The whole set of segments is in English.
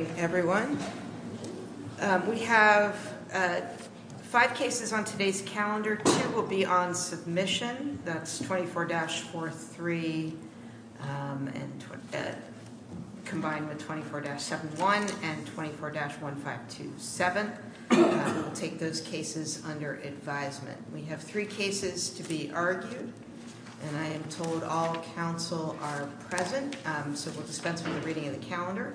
Good morning, everyone. We have five cases on today's calendar. Two will be on submission. That's 24-43 combined with 24-71 and 24-1527. We'll take those cases under advisement. We have three cases to be argued, and I am told all counsel are present, so we'll dispense with the reading of the calendar.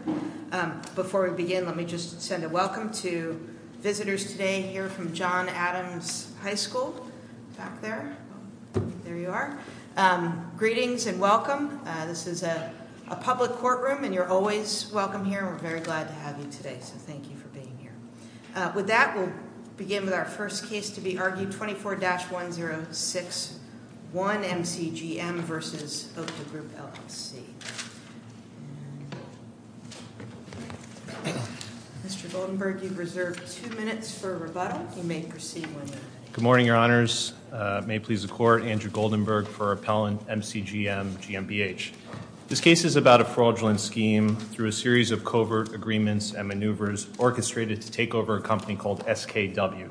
Before we begin, let me just send a welcome to visitors today here from John Adams High School back there. There you are. Greetings and welcome. This is a public courtroom, and you're always welcome here. We're very glad to have you today, so thank you for being here. With that, we'll begin with our first case to be argued, 24-1061, MCGM v. OPTA Group LLC. Mr. Goldenberg, you've reserved two minutes for rebuttal. You may proceed when you're ready. Good morning, Your Honors. May it please the Court, Andrew Goldenberg for appellant MCGM, GmbH. This case is about a fraudulent scheme through a series of covert agreements and maneuvers orchestrated to take over a company called SKW.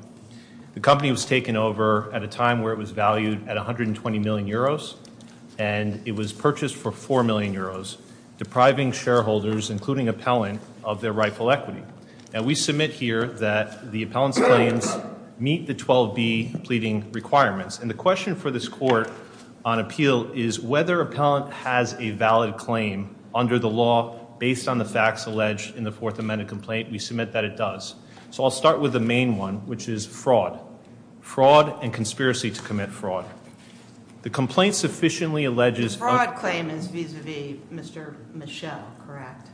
The company was taken over at a time where it was valued at 120 million euros, and it was purchased for 4 million euros, depriving shareholders, including appellant, of their rightful equity. Now, we submit here that the appellant's claims meet the 12B pleading requirements. And the question for this court on appeal is whether appellant has a valid claim under the law based on the facts alleged in the Fourth Amendment complaint. We submit that it does. So I'll start with the main one, which is fraud. Fraud and conspiracy to commit fraud. The complaint sufficiently alleges- The fraud claim is vis-a-vis Mr. Michelle, correct?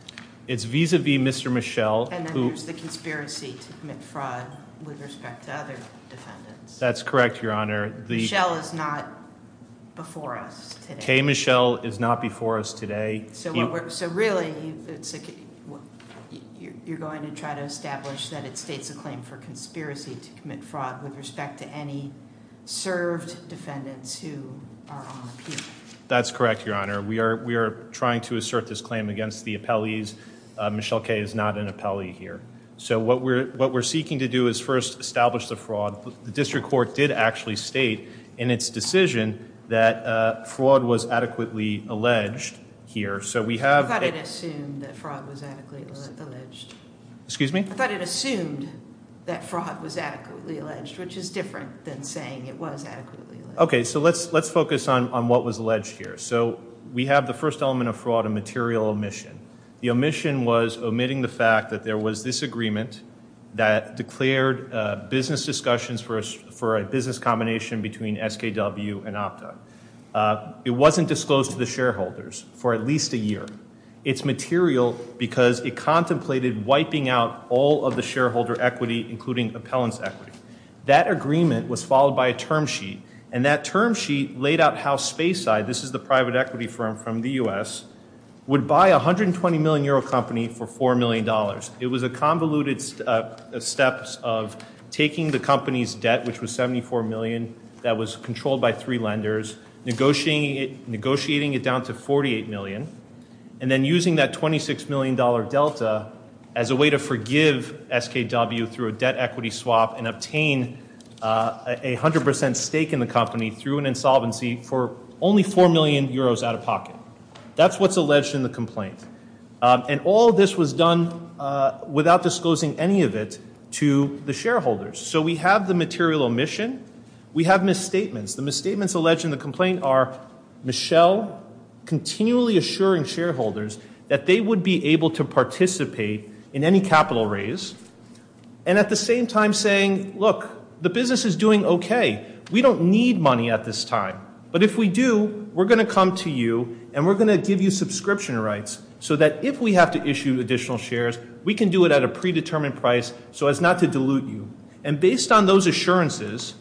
It's vis-a-vis Mr. Michelle, who- And then there's the conspiracy to commit fraud with respect to other defendants. That's correct, Your Honor. Michelle is not before us today. Kay Michelle is not before us today. So really, you're going to try to establish that it states a claim for conspiracy to commit fraud with respect to any served defendants who are on appeal. That's correct, Your Honor. We are trying to assert this claim against the appellees. Michelle Kay is not an appellee here. So what we're seeking to do is first establish the fraud. The district court did actually state in its decision that fraud was adequately alleged here. So we have- I thought it assumed that fraud was adequately alleged. Excuse me? I thought it assumed that fraud was adequately alleged, which is different than saying it was adequately alleged. Okay, so let's focus on what was alleged here. So we have the first element of fraud, a material omission. The omission was omitting the fact that there was this agreement that declared business discussions for a business combination between SKW and OPTA. It wasn't disclosed to the shareholders for at least a year. It's material because it contemplated wiping out all of the shareholder equity, including appellant's equity. That agreement was followed by a term sheet, and that term sheet laid out how Spayside, this is the private equity firm from the U.S., would buy a 120-million-euro company for $4 million. It was a convoluted step of taking the company's debt, which was $74 million, that was controlled by three lenders, negotiating it down to $48 million, and then using that $26 million delta as a way to forgive SKW through a debt equity swap and obtain a 100% stake in the company through an insolvency for only 4 million euros out of pocket. That's what's alleged in the complaint. And all this was done without disclosing any of it to the shareholders. So we have the material omission. We have misstatements. The misstatements alleged in the complaint are Michelle continually assuring shareholders that they would be able to participate in any capital raise, and at the same time saying, look, the business is doing okay. We don't need money at this time, but if we do, we're going to come to you, and we're going to give you subscription rights so that if we have to issue additional shares, we can do it at a predetermined price so as not to dilute you. And based on those assurances,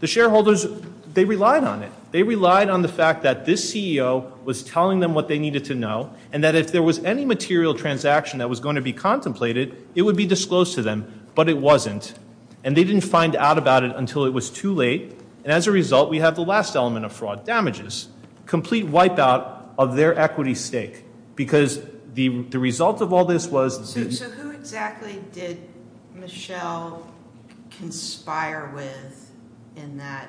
the shareholders, they relied on it. They relied on the fact that this CEO was telling them what they needed to know and that if there was any material transaction that was going to be contemplated, it would be disclosed to them, but it wasn't. And they didn't find out about it until it was too late. And as a result, we have the last element of fraud, damages, complete wipeout of their equity stake because the result of all this was. So who exactly did Michelle conspire with in that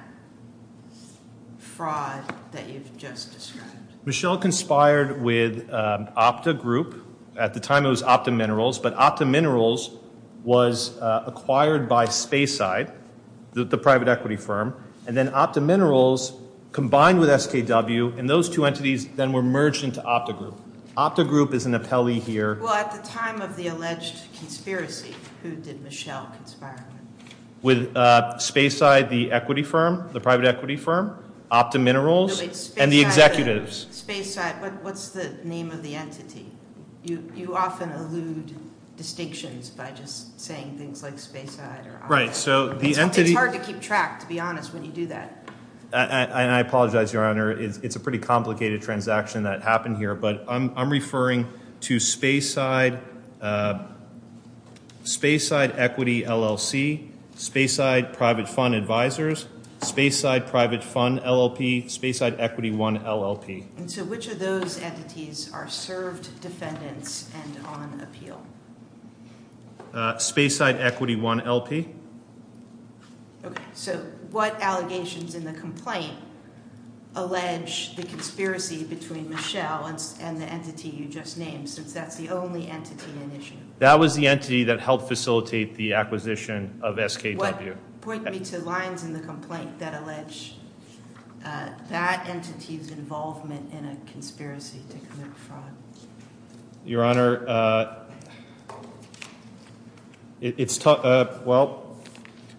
fraud that you've just described? Michelle conspired with Opta Group. At the time, it was Opta Minerals, but Opta Minerals was acquired by Spayside, the private equity firm, and then Opta Minerals combined with SKW, and those two entities then were merged into Opta Group. Opta Group is an appellee here. Well, at the time of the alleged conspiracy, who did Michelle conspire with? With Spayside, the equity firm, the private equity firm, Opta Minerals, and the executives. Spayside, but what's the name of the entity? You often allude distinctions by just saying things like Spayside or Opta. Right, so the entity— It's hard to keep track, to be honest, when you do that. And I apologize, Your Honor. It's a pretty complicated transaction that happened here, but I'm referring to Spayside Equity LLC, Spayside Private Fund Advisors, Spayside Private Fund LLP, Spayside Equity One LLP. And so which of those entities are served defendants and on appeal? Spayside Equity One LP. Okay, so what allegations in the complaint allege the conspiracy between Michelle and the entity you just named, since that's the only entity in issue? That was the entity that helped facilitate the acquisition of SKW. Point me to lines in the complaint that allege that entity's involvement in a conspiracy to commit fraud. Your Honor, it's—well,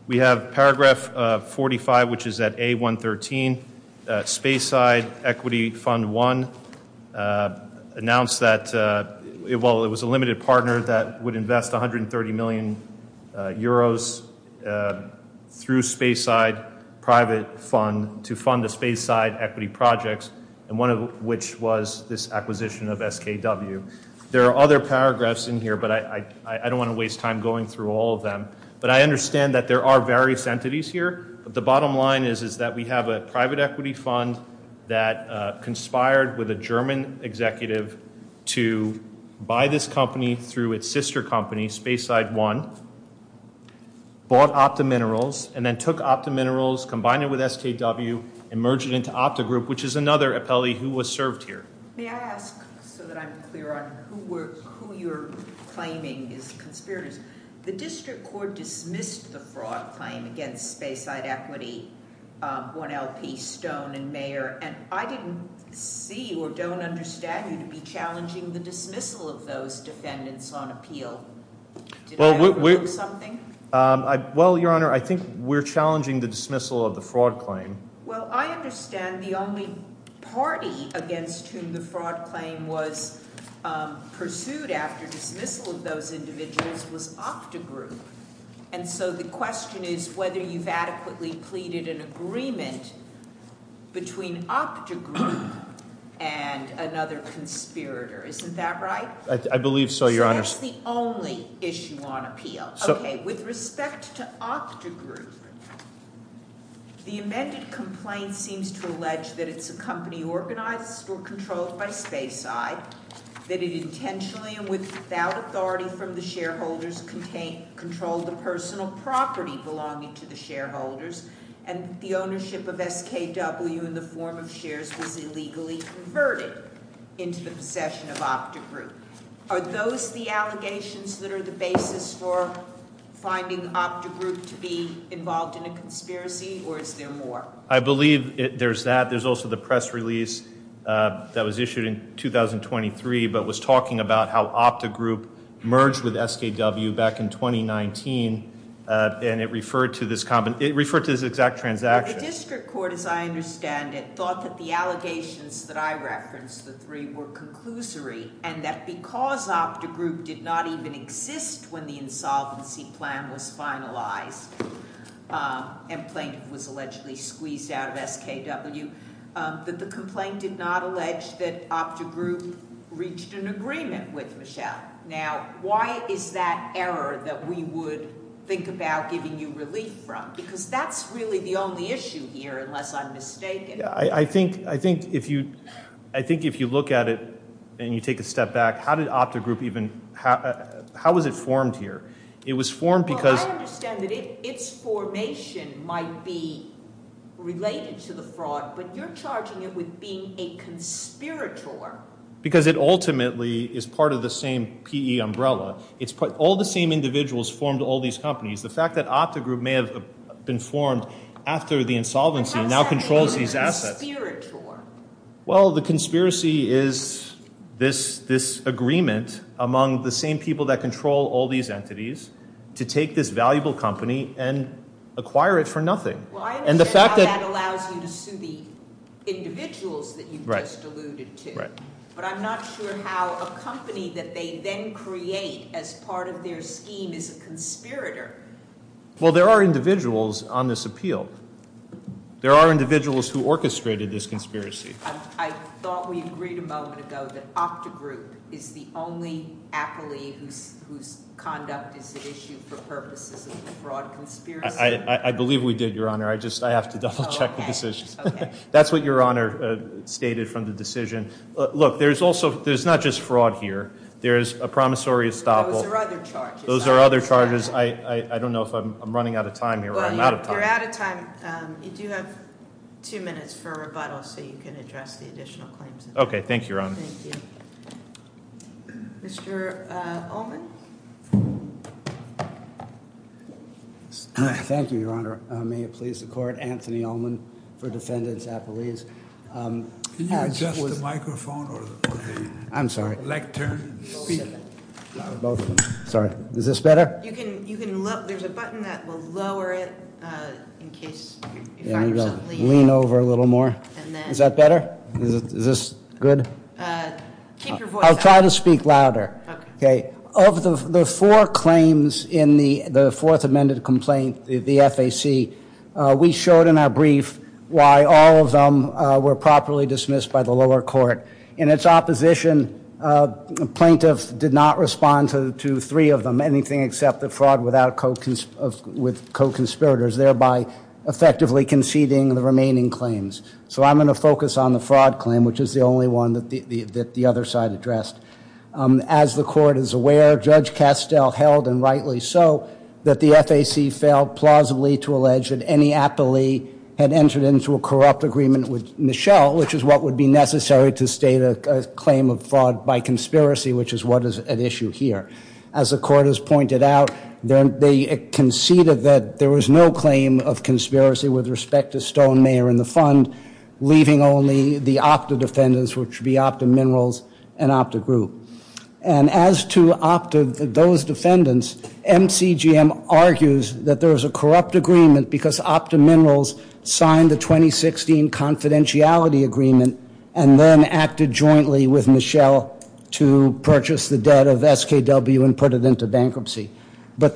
we have paragraph 45, which is at A113. Spayside Equity Fund One announced that—well, it was a limited partner that would invest 130 million euros through Spayside Private Fund to fund the Spayside Equity projects, and one of which was this acquisition of SKW. There are other paragraphs in here, but I don't want to waste time going through all of them. But I understand that there are various entities here, but the bottom line is that we have a private equity fund that conspired with a German executive to buy this company through its sister company, Spayside One, bought Opta Minerals, and then took Opta Minerals, combined it with SKW, and merged it into Opta Group, which is another appellee who was served here. May I ask, so that I'm clear on who you're claiming is the conspirators? The district court dismissed the fraud claim against Spayside Equity, One LP, Stone, and Mayer, and I didn't see or don't understand you to be challenging the dismissal of those defendants on appeal. Did I overlook something? Well, Your Honor, I think we're challenging the dismissal of the fraud claim. Well, I understand the only party against whom the fraud claim was pursued after dismissal of those individuals was Opta Group. And so the question is whether you've adequately pleaded an agreement between Opta Group and another conspirator. Isn't that right? I believe so, Your Honor. That's the only issue on appeal. Okay, with respect to Opta Group, the amended complaint seems to allege that it's a company organized or controlled by Spayside, that it intentionally and without authority from the shareholders controlled the personal property belonging to the shareholders, and the ownership of SKW in the form of shares was illegally converted into the possession of Opta Group. Are those the allegations that are the basis for finding Opta Group to be involved in a conspiracy, or is there more? I believe there's that. There's also the press release that was issued in 2023, but was talking about how Opta Group merged with SKW back in 2019, and it referred to this exact transaction. The district court, as I understand it, thought that the allegations that I referenced, the three, were conclusory, and that because Opta Group did not even exist when the insolvency plan was finalized and plaintiff was allegedly squeezed out of SKW, that the complaint did not allege that Opta Group reached an agreement with Michelle. Now, why is that error that we would think about giving you relief from? Because that's really the only issue here, unless I'm mistaken. I think if you look at it and you take a step back, how was it formed here? Well, I understand that its formation might be related to the fraud, but you're charging it with being a conspirator. Because it ultimately is part of the same P.E. umbrella. All the same individuals formed all these companies. The fact that Opta Group may have been formed after the insolvency now controls these assets. Well, the conspiracy is this agreement among the same people that control all these entities to take this valuable company and acquire it for nothing. Well, I understand how that allows you to sue the individuals that you just alluded to. But I'm not sure how a company that they then create as part of their scheme is a conspirator. Well, there are individuals on this appeal. There are individuals who orchestrated this conspiracy. I thought we agreed a moment ago that Opta Group is the only acolyte whose conduct is at issue for purposes of a fraud conspiracy. I believe we did, Your Honor. I just have to double check the decision. That's what Your Honor stated from the decision. Look, there's not just fraud here. There's a promissory estoppel. Those are other charges. Those are other charges. I don't know if I'm running out of time here or I'm out of time. You're out of time. You do have two minutes for rebuttal so you can address the additional claims. Okay, thank you, Your Honor. Thank you. Mr. Ullman? Thank you, Your Honor. May it please the court. Anthony Ullman for Defendants Appellees. Can you adjust the microphone or the lectern? Both of them. Sorry. Is this better? You can look. There's a button that will lower it in case. Lean over a little more. Is that better? Is this good? Keep your voice up. I'll try to speak louder. Okay. Of the four claims in the fourth amended complaint, the FAC, we showed in our brief why all of them were properly dismissed by the lower court. In its opposition, plaintiffs did not respond to three of them, anything except the fraud with co-conspirators, thereby effectively conceding the remaining claims. So I'm going to focus on the fraud claim, which is the only one that the other side addressed. As the court is aware, Judge Castell held, and rightly so, that the FAC failed plausibly to allege that any appellee had entered into a corrupt agreement with Michelle, which is what would be necessary to state a claim of fraud by conspiracy, which is what is at issue here. As the court has pointed out, they conceded that there was no claim of conspiracy with respect to Stone, Mayer, and the Fund, leaving only the Opta defendants, which would be Opta Minerals and Opta Group. And as to Opta, those defendants, MCGM argues that there was a corrupt agreement because Opta Minerals signed the 2016 confidentiality agreement and then acted jointly with Michelle to purchase the debt of SKW and put it into bankruptcy. But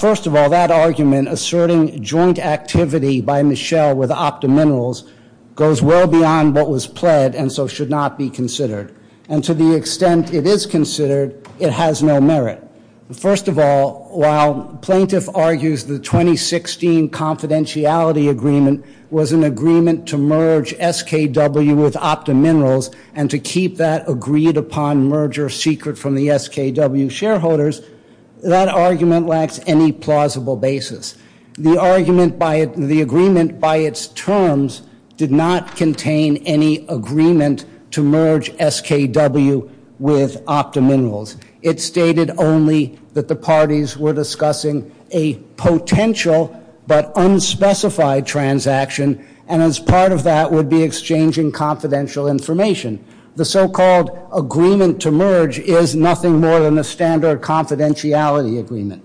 first of all, that argument, asserting joint activity by Michelle with Opta Minerals, goes well beyond what was pled and so should not be considered. And to the extent it is considered, it has no merit. First of all, while plaintiff argues the 2016 confidentiality agreement was an agreement to merge SKW with Opta Minerals and to keep that agreed-upon merger secret from the SKW shareholders, that argument lacks any plausible basis. The agreement by its terms did not contain any agreement to merge SKW with Opta Minerals. It stated only that the parties were discussing a potential but unspecified transaction and as part of that would be exchanging confidential information. The so-called agreement to merge is nothing more than a standard confidentiality agreement.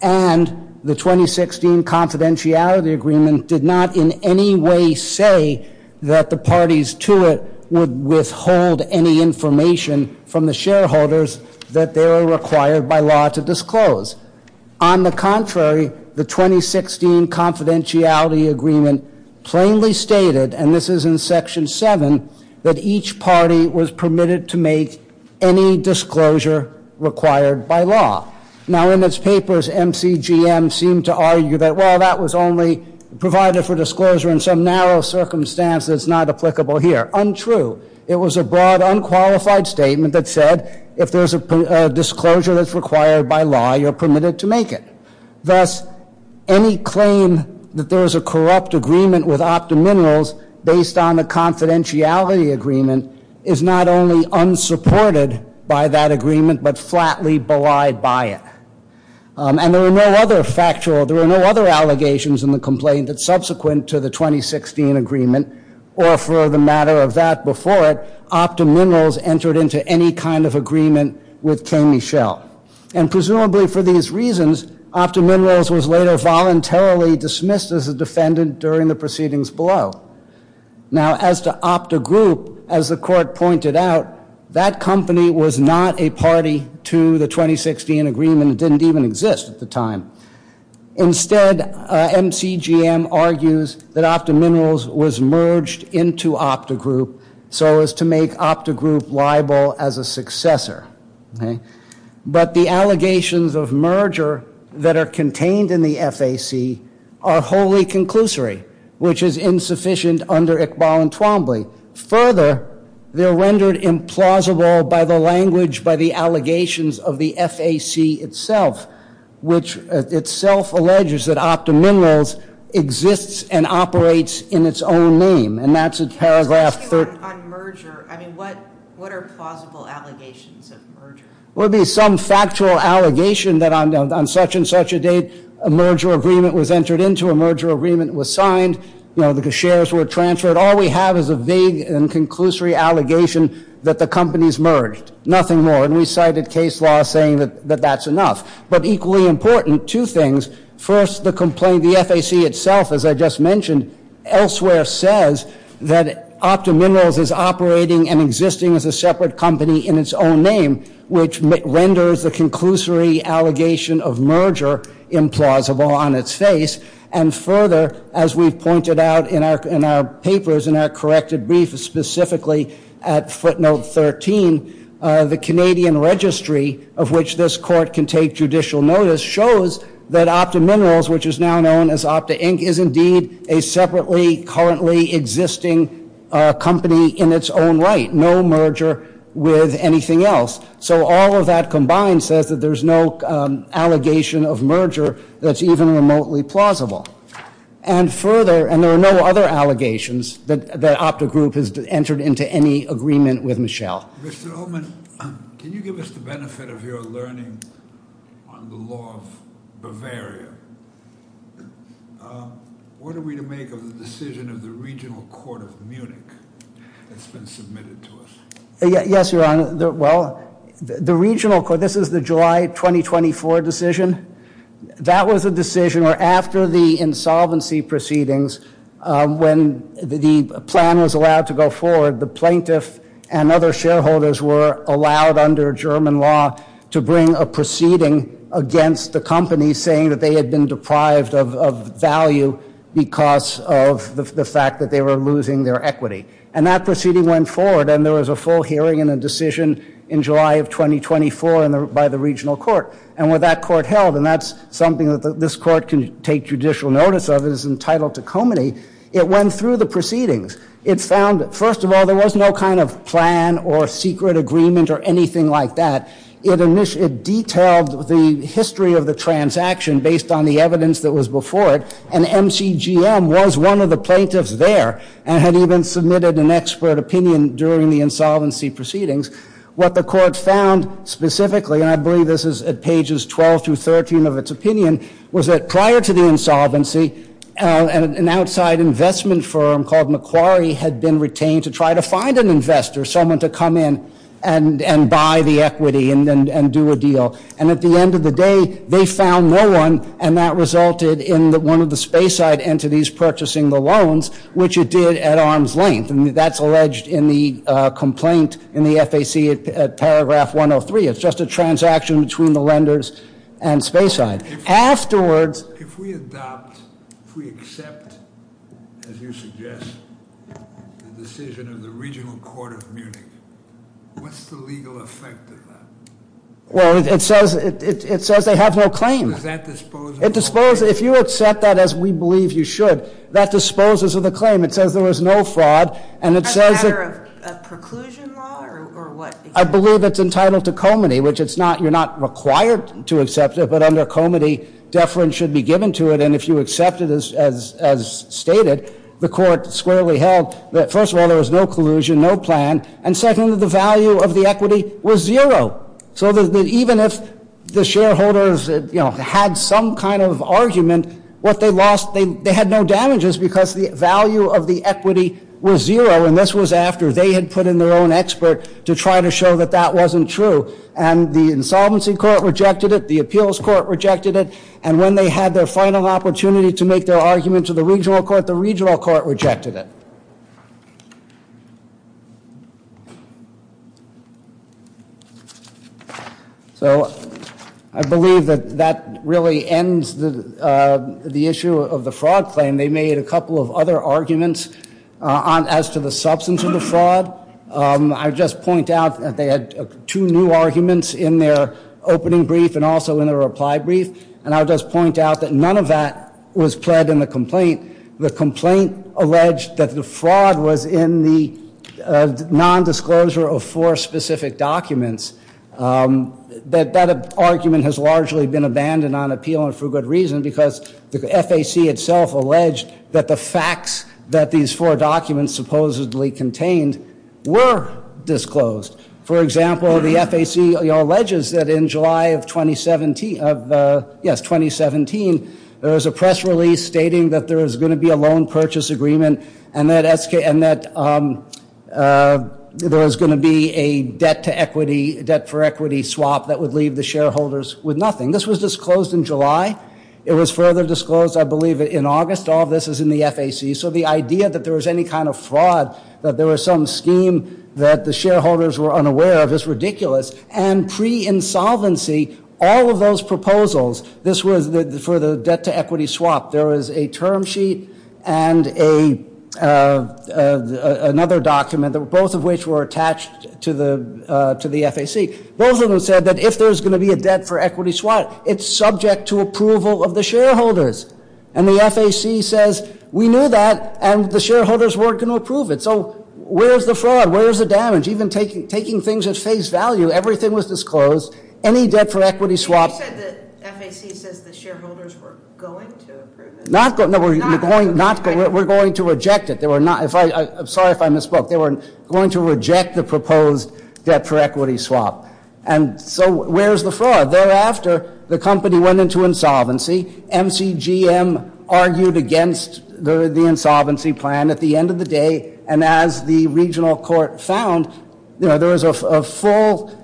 And the 2016 confidentiality agreement did not in any way say that the parties to it would withhold any information from the shareholders that they were required by law to disclose. On the contrary, the 2016 confidentiality agreement plainly stated, and this is in Section 7, that each party was permitted to make any disclosure required by law. Now in its papers, MCGM seemed to argue that, well, that was only provided for disclosure in some narrow circumstance that's not applicable here. Untrue. It was a broad unqualified statement that said, if there's a disclosure that's required by law, you're permitted to make it. Thus, any claim that there's a corrupt agreement with Opta Minerals based on the confidentiality agreement is not only unsupported by that agreement, but flatly belied by it. And there were no other factual, there were no other allegations in the complaint that subsequent to the 2016 agreement or for the matter of that before it, Opta Minerals entered into any kind of agreement with K. Michel. And presumably for these reasons, Opta Minerals was later voluntarily dismissed as a defendant during the proceedings below. Now as to Opta Group, as the court pointed out, that company was not a party to the 2016 agreement. It didn't even exist at the time. Instead, MCGM argues that Opta Minerals was merged into Opta Group so as to make Opta Group liable as a successor. But the allegations of merger that are contained in the FAC are wholly conclusory, which is insufficient under Iqbal and Twombly. Further, they're rendered implausible by the language, by the allegations of the FAC itself, which itself alleges that Opta Minerals exists and operates in its own name. On merger, what are plausible allegations of merger? It would be some factual allegation that on such and such a date, a merger agreement was entered into, a merger agreement was signed, the shares were transferred. All we have is a vague and conclusory allegation that the company's merged. Nothing more. And we cited case law saying that that's enough. But equally important, two things. First, the complaint, the FAC itself, as I just mentioned, elsewhere says that Opta Minerals is operating and existing as a separate company in its own name, which renders the conclusory allegation of merger implausible on its face. And further, as we've pointed out in our papers, in our corrected brief, specifically at footnote 13, the Canadian registry of which this court can take judicial notice shows that Opta Minerals, which is now known as Opta Inc., is indeed a separately currently existing company in its own right. No merger with anything else. So all of that combined says that there's no allegation of merger that's even remotely plausible. And further, and there are no other allegations that Opta Group has entered into any agreement with Michelle. Mr. Ullman, can you give us the benefit of your learning on the law of Bavaria? What are we to make of the decision of the regional court of Munich that's been submitted to us? Yes, Your Honor. Well, the regional court, this is the July 2024 decision. That was a decision where after the insolvency proceedings, when the plan was allowed to go forward, the plaintiff and other shareholders were allowed under German law to bring a proceeding against the company saying that they had been deprived of value because of the fact that they were losing their equity. And that proceeding went forward, and there was a full hearing and a decision in July of 2024 by the regional court. And when that court held, and that's something that this court can take judicial notice of, it is entitled to comity, it went through the proceedings. It found, first of all, there was no kind of plan or secret agreement or anything like that. It detailed the history of the transaction based on the evidence that was before it, and MCGM was one of the plaintiffs there and had even submitted an expert opinion during the insolvency proceedings. What the court found specifically, and I believe this is at pages 12 through 13 of its opinion, was that prior to the insolvency, an outside investment firm called Macquarie had been retained to try to find an investor, someone to come in and buy the equity and do a deal. And at the end of the day, they found no one, and that resulted in one of the Spayside entities purchasing the loans, which it did at arm's length, and that's alleged in the complaint in the FAC at paragraph 103. It's just a transaction between the lenders and Spayside. Afterwards- If we adopt, if we accept, as you suggest, the decision of the regional court of Munich, what's the legal effect of that? Well, it says they have no claim. Does that dispose of the claim? It disposes, if you accept that as we believe you should, that disposes of the claim. It says there was no fraud, and it says- Is that a matter of preclusion law or what? I believe it's entitled to comity, which it's not, you're not required to accept it, but under comity, deference should be given to it, and if you accept it as stated, the court squarely held that, first of all, there was no collusion, no plan, and second, that the value of the equity was zero. So that even if the shareholders had some kind of argument, what they lost, they had no damages because the value of the equity was zero, and this was after they had put in their own expert to try to show that that wasn't true, and the insolvency court rejected it, the appeals court rejected it, and when they had their final opportunity to make their argument to the regional court, the regional court rejected it. So I believe that that really ends the issue of the fraud claim. They made a couple of other arguments as to the substance of the fraud. I would just point out that they had two new arguments in their opening brief and also in their reply brief, and I would just point out that none of that was pled in the complaint. The complaint alleged that the fraud was in the nondisclosure of four specific documents. That argument has largely been abandoned on appeal and for good reason because the FAC itself alleged that the facts that these four documents supposedly contained were disclosed. For example, the FAC alleges that in July of 2017, there was a press release stating that there was going to be a loan purchase agreement and that there was going to be a debt for equity swap that would leave the shareholders with nothing. This was disclosed in July. It was further disclosed, I believe, in August. All of this is in the FAC, so the idea that there was any kind of fraud, that there was some scheme that the shareholders were unaware of is ridiculous, and pre-insolvency, all of those proposals, this was for the debt to equity swap. There was a term sheet and another document, both of which were attached to the FAC. Both of them said that if there's going to be a debt for equity swap, it's subject to approval of the shareholders. And the FAC says, we knew that, and the shareholders weren't going to approve it. So where's the fraud? Where's the damage? Even taking things at face value, everything was disclosed. You said the FAC says the shareholders were going to approve it. We're going to reject it. Sorry if I misspoke. They were going to reject the proposed debt for equity swap. And so where's the fraud? Thereafter, the company went into insolvency. MCGM argued against the insolvency plan at the end of the day, and as the regional court found, there was a full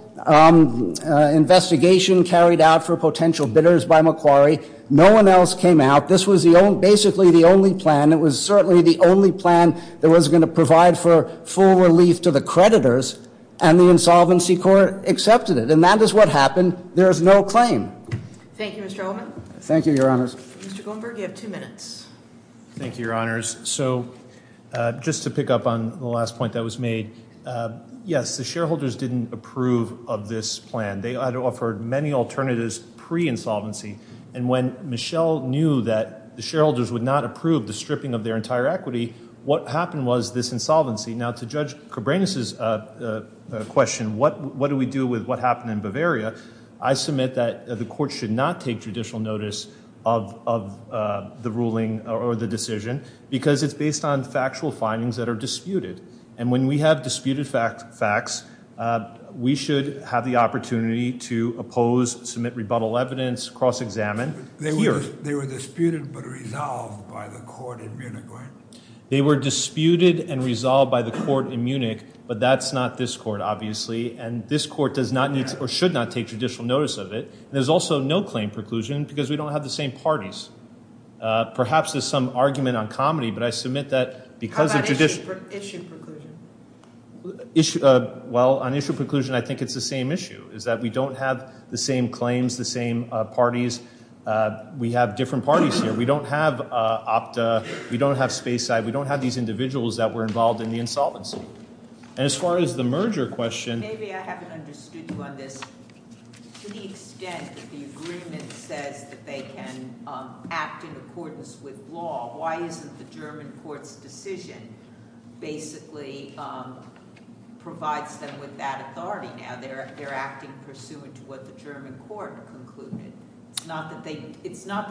investigation carried out for potential bidders by Macquarie. No one else came out. This was basically the only plan. It was certainly the only plan that was going to provide for full relief to the creditors, and the insolvency court accepted it. And that is what happened. There is no claim. Thank you, Mr. Ullman. Thank you, Your Honors. Mr. Goldberg, you have two minutes. Thank you, Your Honors. So just to pick up on the last point that was made, yes, the shareholders didn't approve of this plan. They had offered many alternatives pre-insolvency, and when Michelle knew that the shareholders would not approve the stripping of their entire equity, what happened was this insolvency. Now, to Judge Cabranes' question, what do we do with what happened in Bavaria, I submit that the court should not take judicial notice of the ruling or the decision because it's based on factual findings that are disputed. And when we have disputed facts, we should have the opportunity to oppose, submit rebuttal evidence, cross-examine. They were disputed but resolved by the court in Munich, right? They were disputed and resolved by the court in Munich, but that's not this court, obviously, and this court does not need or should not take judicial notice of it. There's also no claim preclusion because we don't have the same parties. Perhaps there's some argument on comedy, but I submit that because of judicial – How about issue preclusion? Well, on issue preclusion, I think it's the same issue, is that we don't have the same claims, the same parties. We have different parties here. We don't have Opta. We don't have Space Side. We don't have these individuals that were involved in the insolvency. And as far as the merger question – Maybe I haven't understood you on this. To the extent that the agreement says that they can act in accordance with law, why isn't the German court's decision basically provides them with that authority now? They're acting pursuant to what the German court concluded. It's not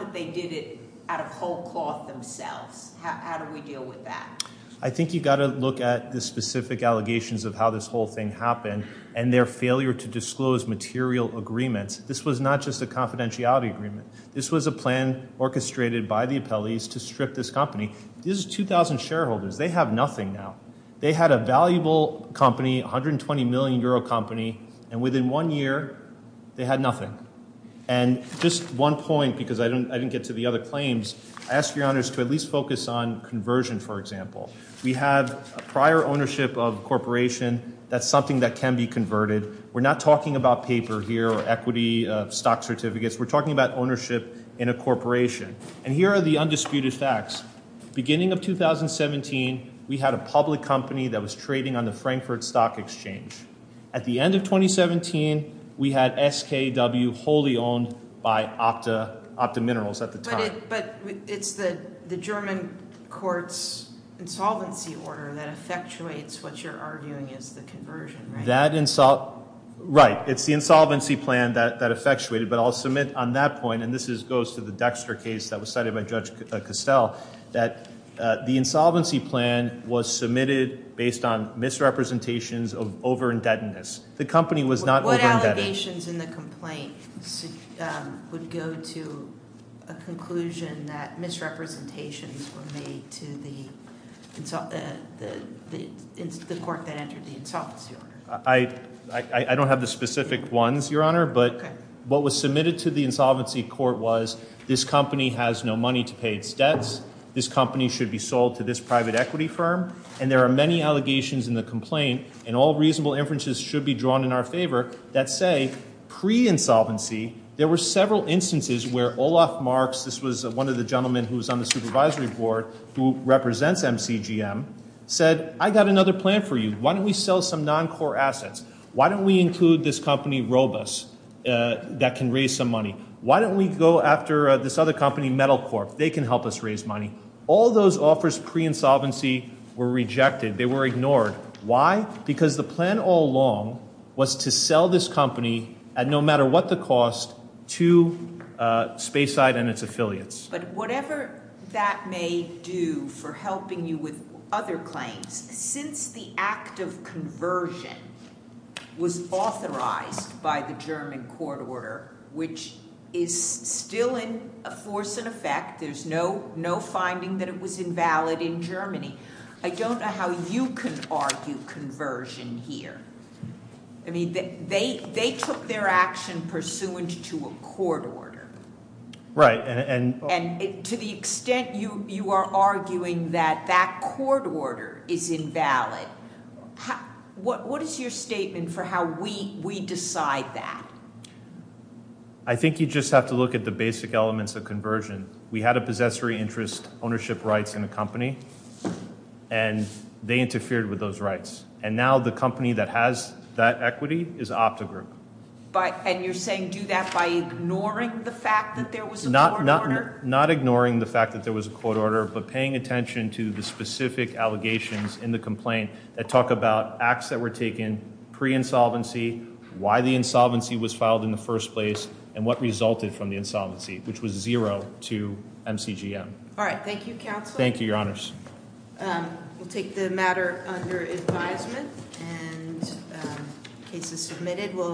that they did it out of whole cloth themselves. How do we deal with that? I think you've got to look at the specific allegations of how this whole thing happened and their failure to disclose material agreements. This was not just a confidentiality agreement. This was a plan orchestrated by the appellees to strip this company. This is 2,000 shareholders. They have nothing now. They had a valuable company, 120-million-euro company, and within one year, they had nothing. And just one point because I didn't get to the other claims. I ask your honors to at least focus on conversion, for example. We have prior ownership of a corporation. That's something that can be converted. We're not talking about paper here or equity stock certificates. We're talking about ownership in a corporation. And here are the undisputed facts. Beginning of 2017, we had a public company that was trading on the Frankfurt Stock Exchange. At the end of 2017, we had SKW wholly owned by Opta Minerals at the time. But it's the German court's insolvency order that effectuates what you're arguing is the conversion, right? Right. It's the insolvency plan that effectuated. But I'll submit on that point, and this goes to the Dexter case that was cited by Judge Cassell, that the insolvency plan was submitted based on misrepresentations of over-indebtedness. The company was not over-indebted. Allegations in the complaint would go to a conclusion that misrepresentations were made to the court that entered the insolvency order. I don't have the specific ones, Your Honor. But what was submitted to the insolvency court was this company has no money to pay its debts. This company should be sold to this private equity firm. And there are many allegations in the complaint, and all reasonable inferences should be drawn in our favor, that say pre-insolvency, there were several instances where Olaf Marx, this was one of the gentlemen who was on the supervisory board who represents MCGM, said, I got another plan for you. Why don't we sell some non-core assets? Why don't we include this company, Robus, that can raise some money? Why don't we go after this other company, Metal Corp? They can help us raise money. All those offers pre-insolvency were rejected. They were ignored. Because the plan all along was to sell this company at no matter what the cost to Spayside and its affiliates. But whatever that may do for helping you with other claims, since the act of conversion was authorized by the German court order, which is still in force and effect, there's no finding that it was invalid in Germany. I don't know how you can argue conversion here. I mean, they took their action pursuant to a court order. Right. And to the extent you are arguing that that court order is invalid, what is your statement for how we decide that? I think you just have to look at the basic elements of conversion. We had a possessory interest ownership rights in the company, and they interfered with those rights. And now the company that has that equity is OptiGroup. And you're saying do that by ignoring the fact that there was a court order? Not ignoring the fact that there was a court order, but paying attention to the specific allegations in the complaint that talk about acts that were taken pre-insolvency, why the insolvency was filed in the first place, and what resulted from the insolvency, which was zero to MCGM. All right. Thank you, Counsel. Thank you, Your Honors. We'll take the matter under advisement. And the case is submitted.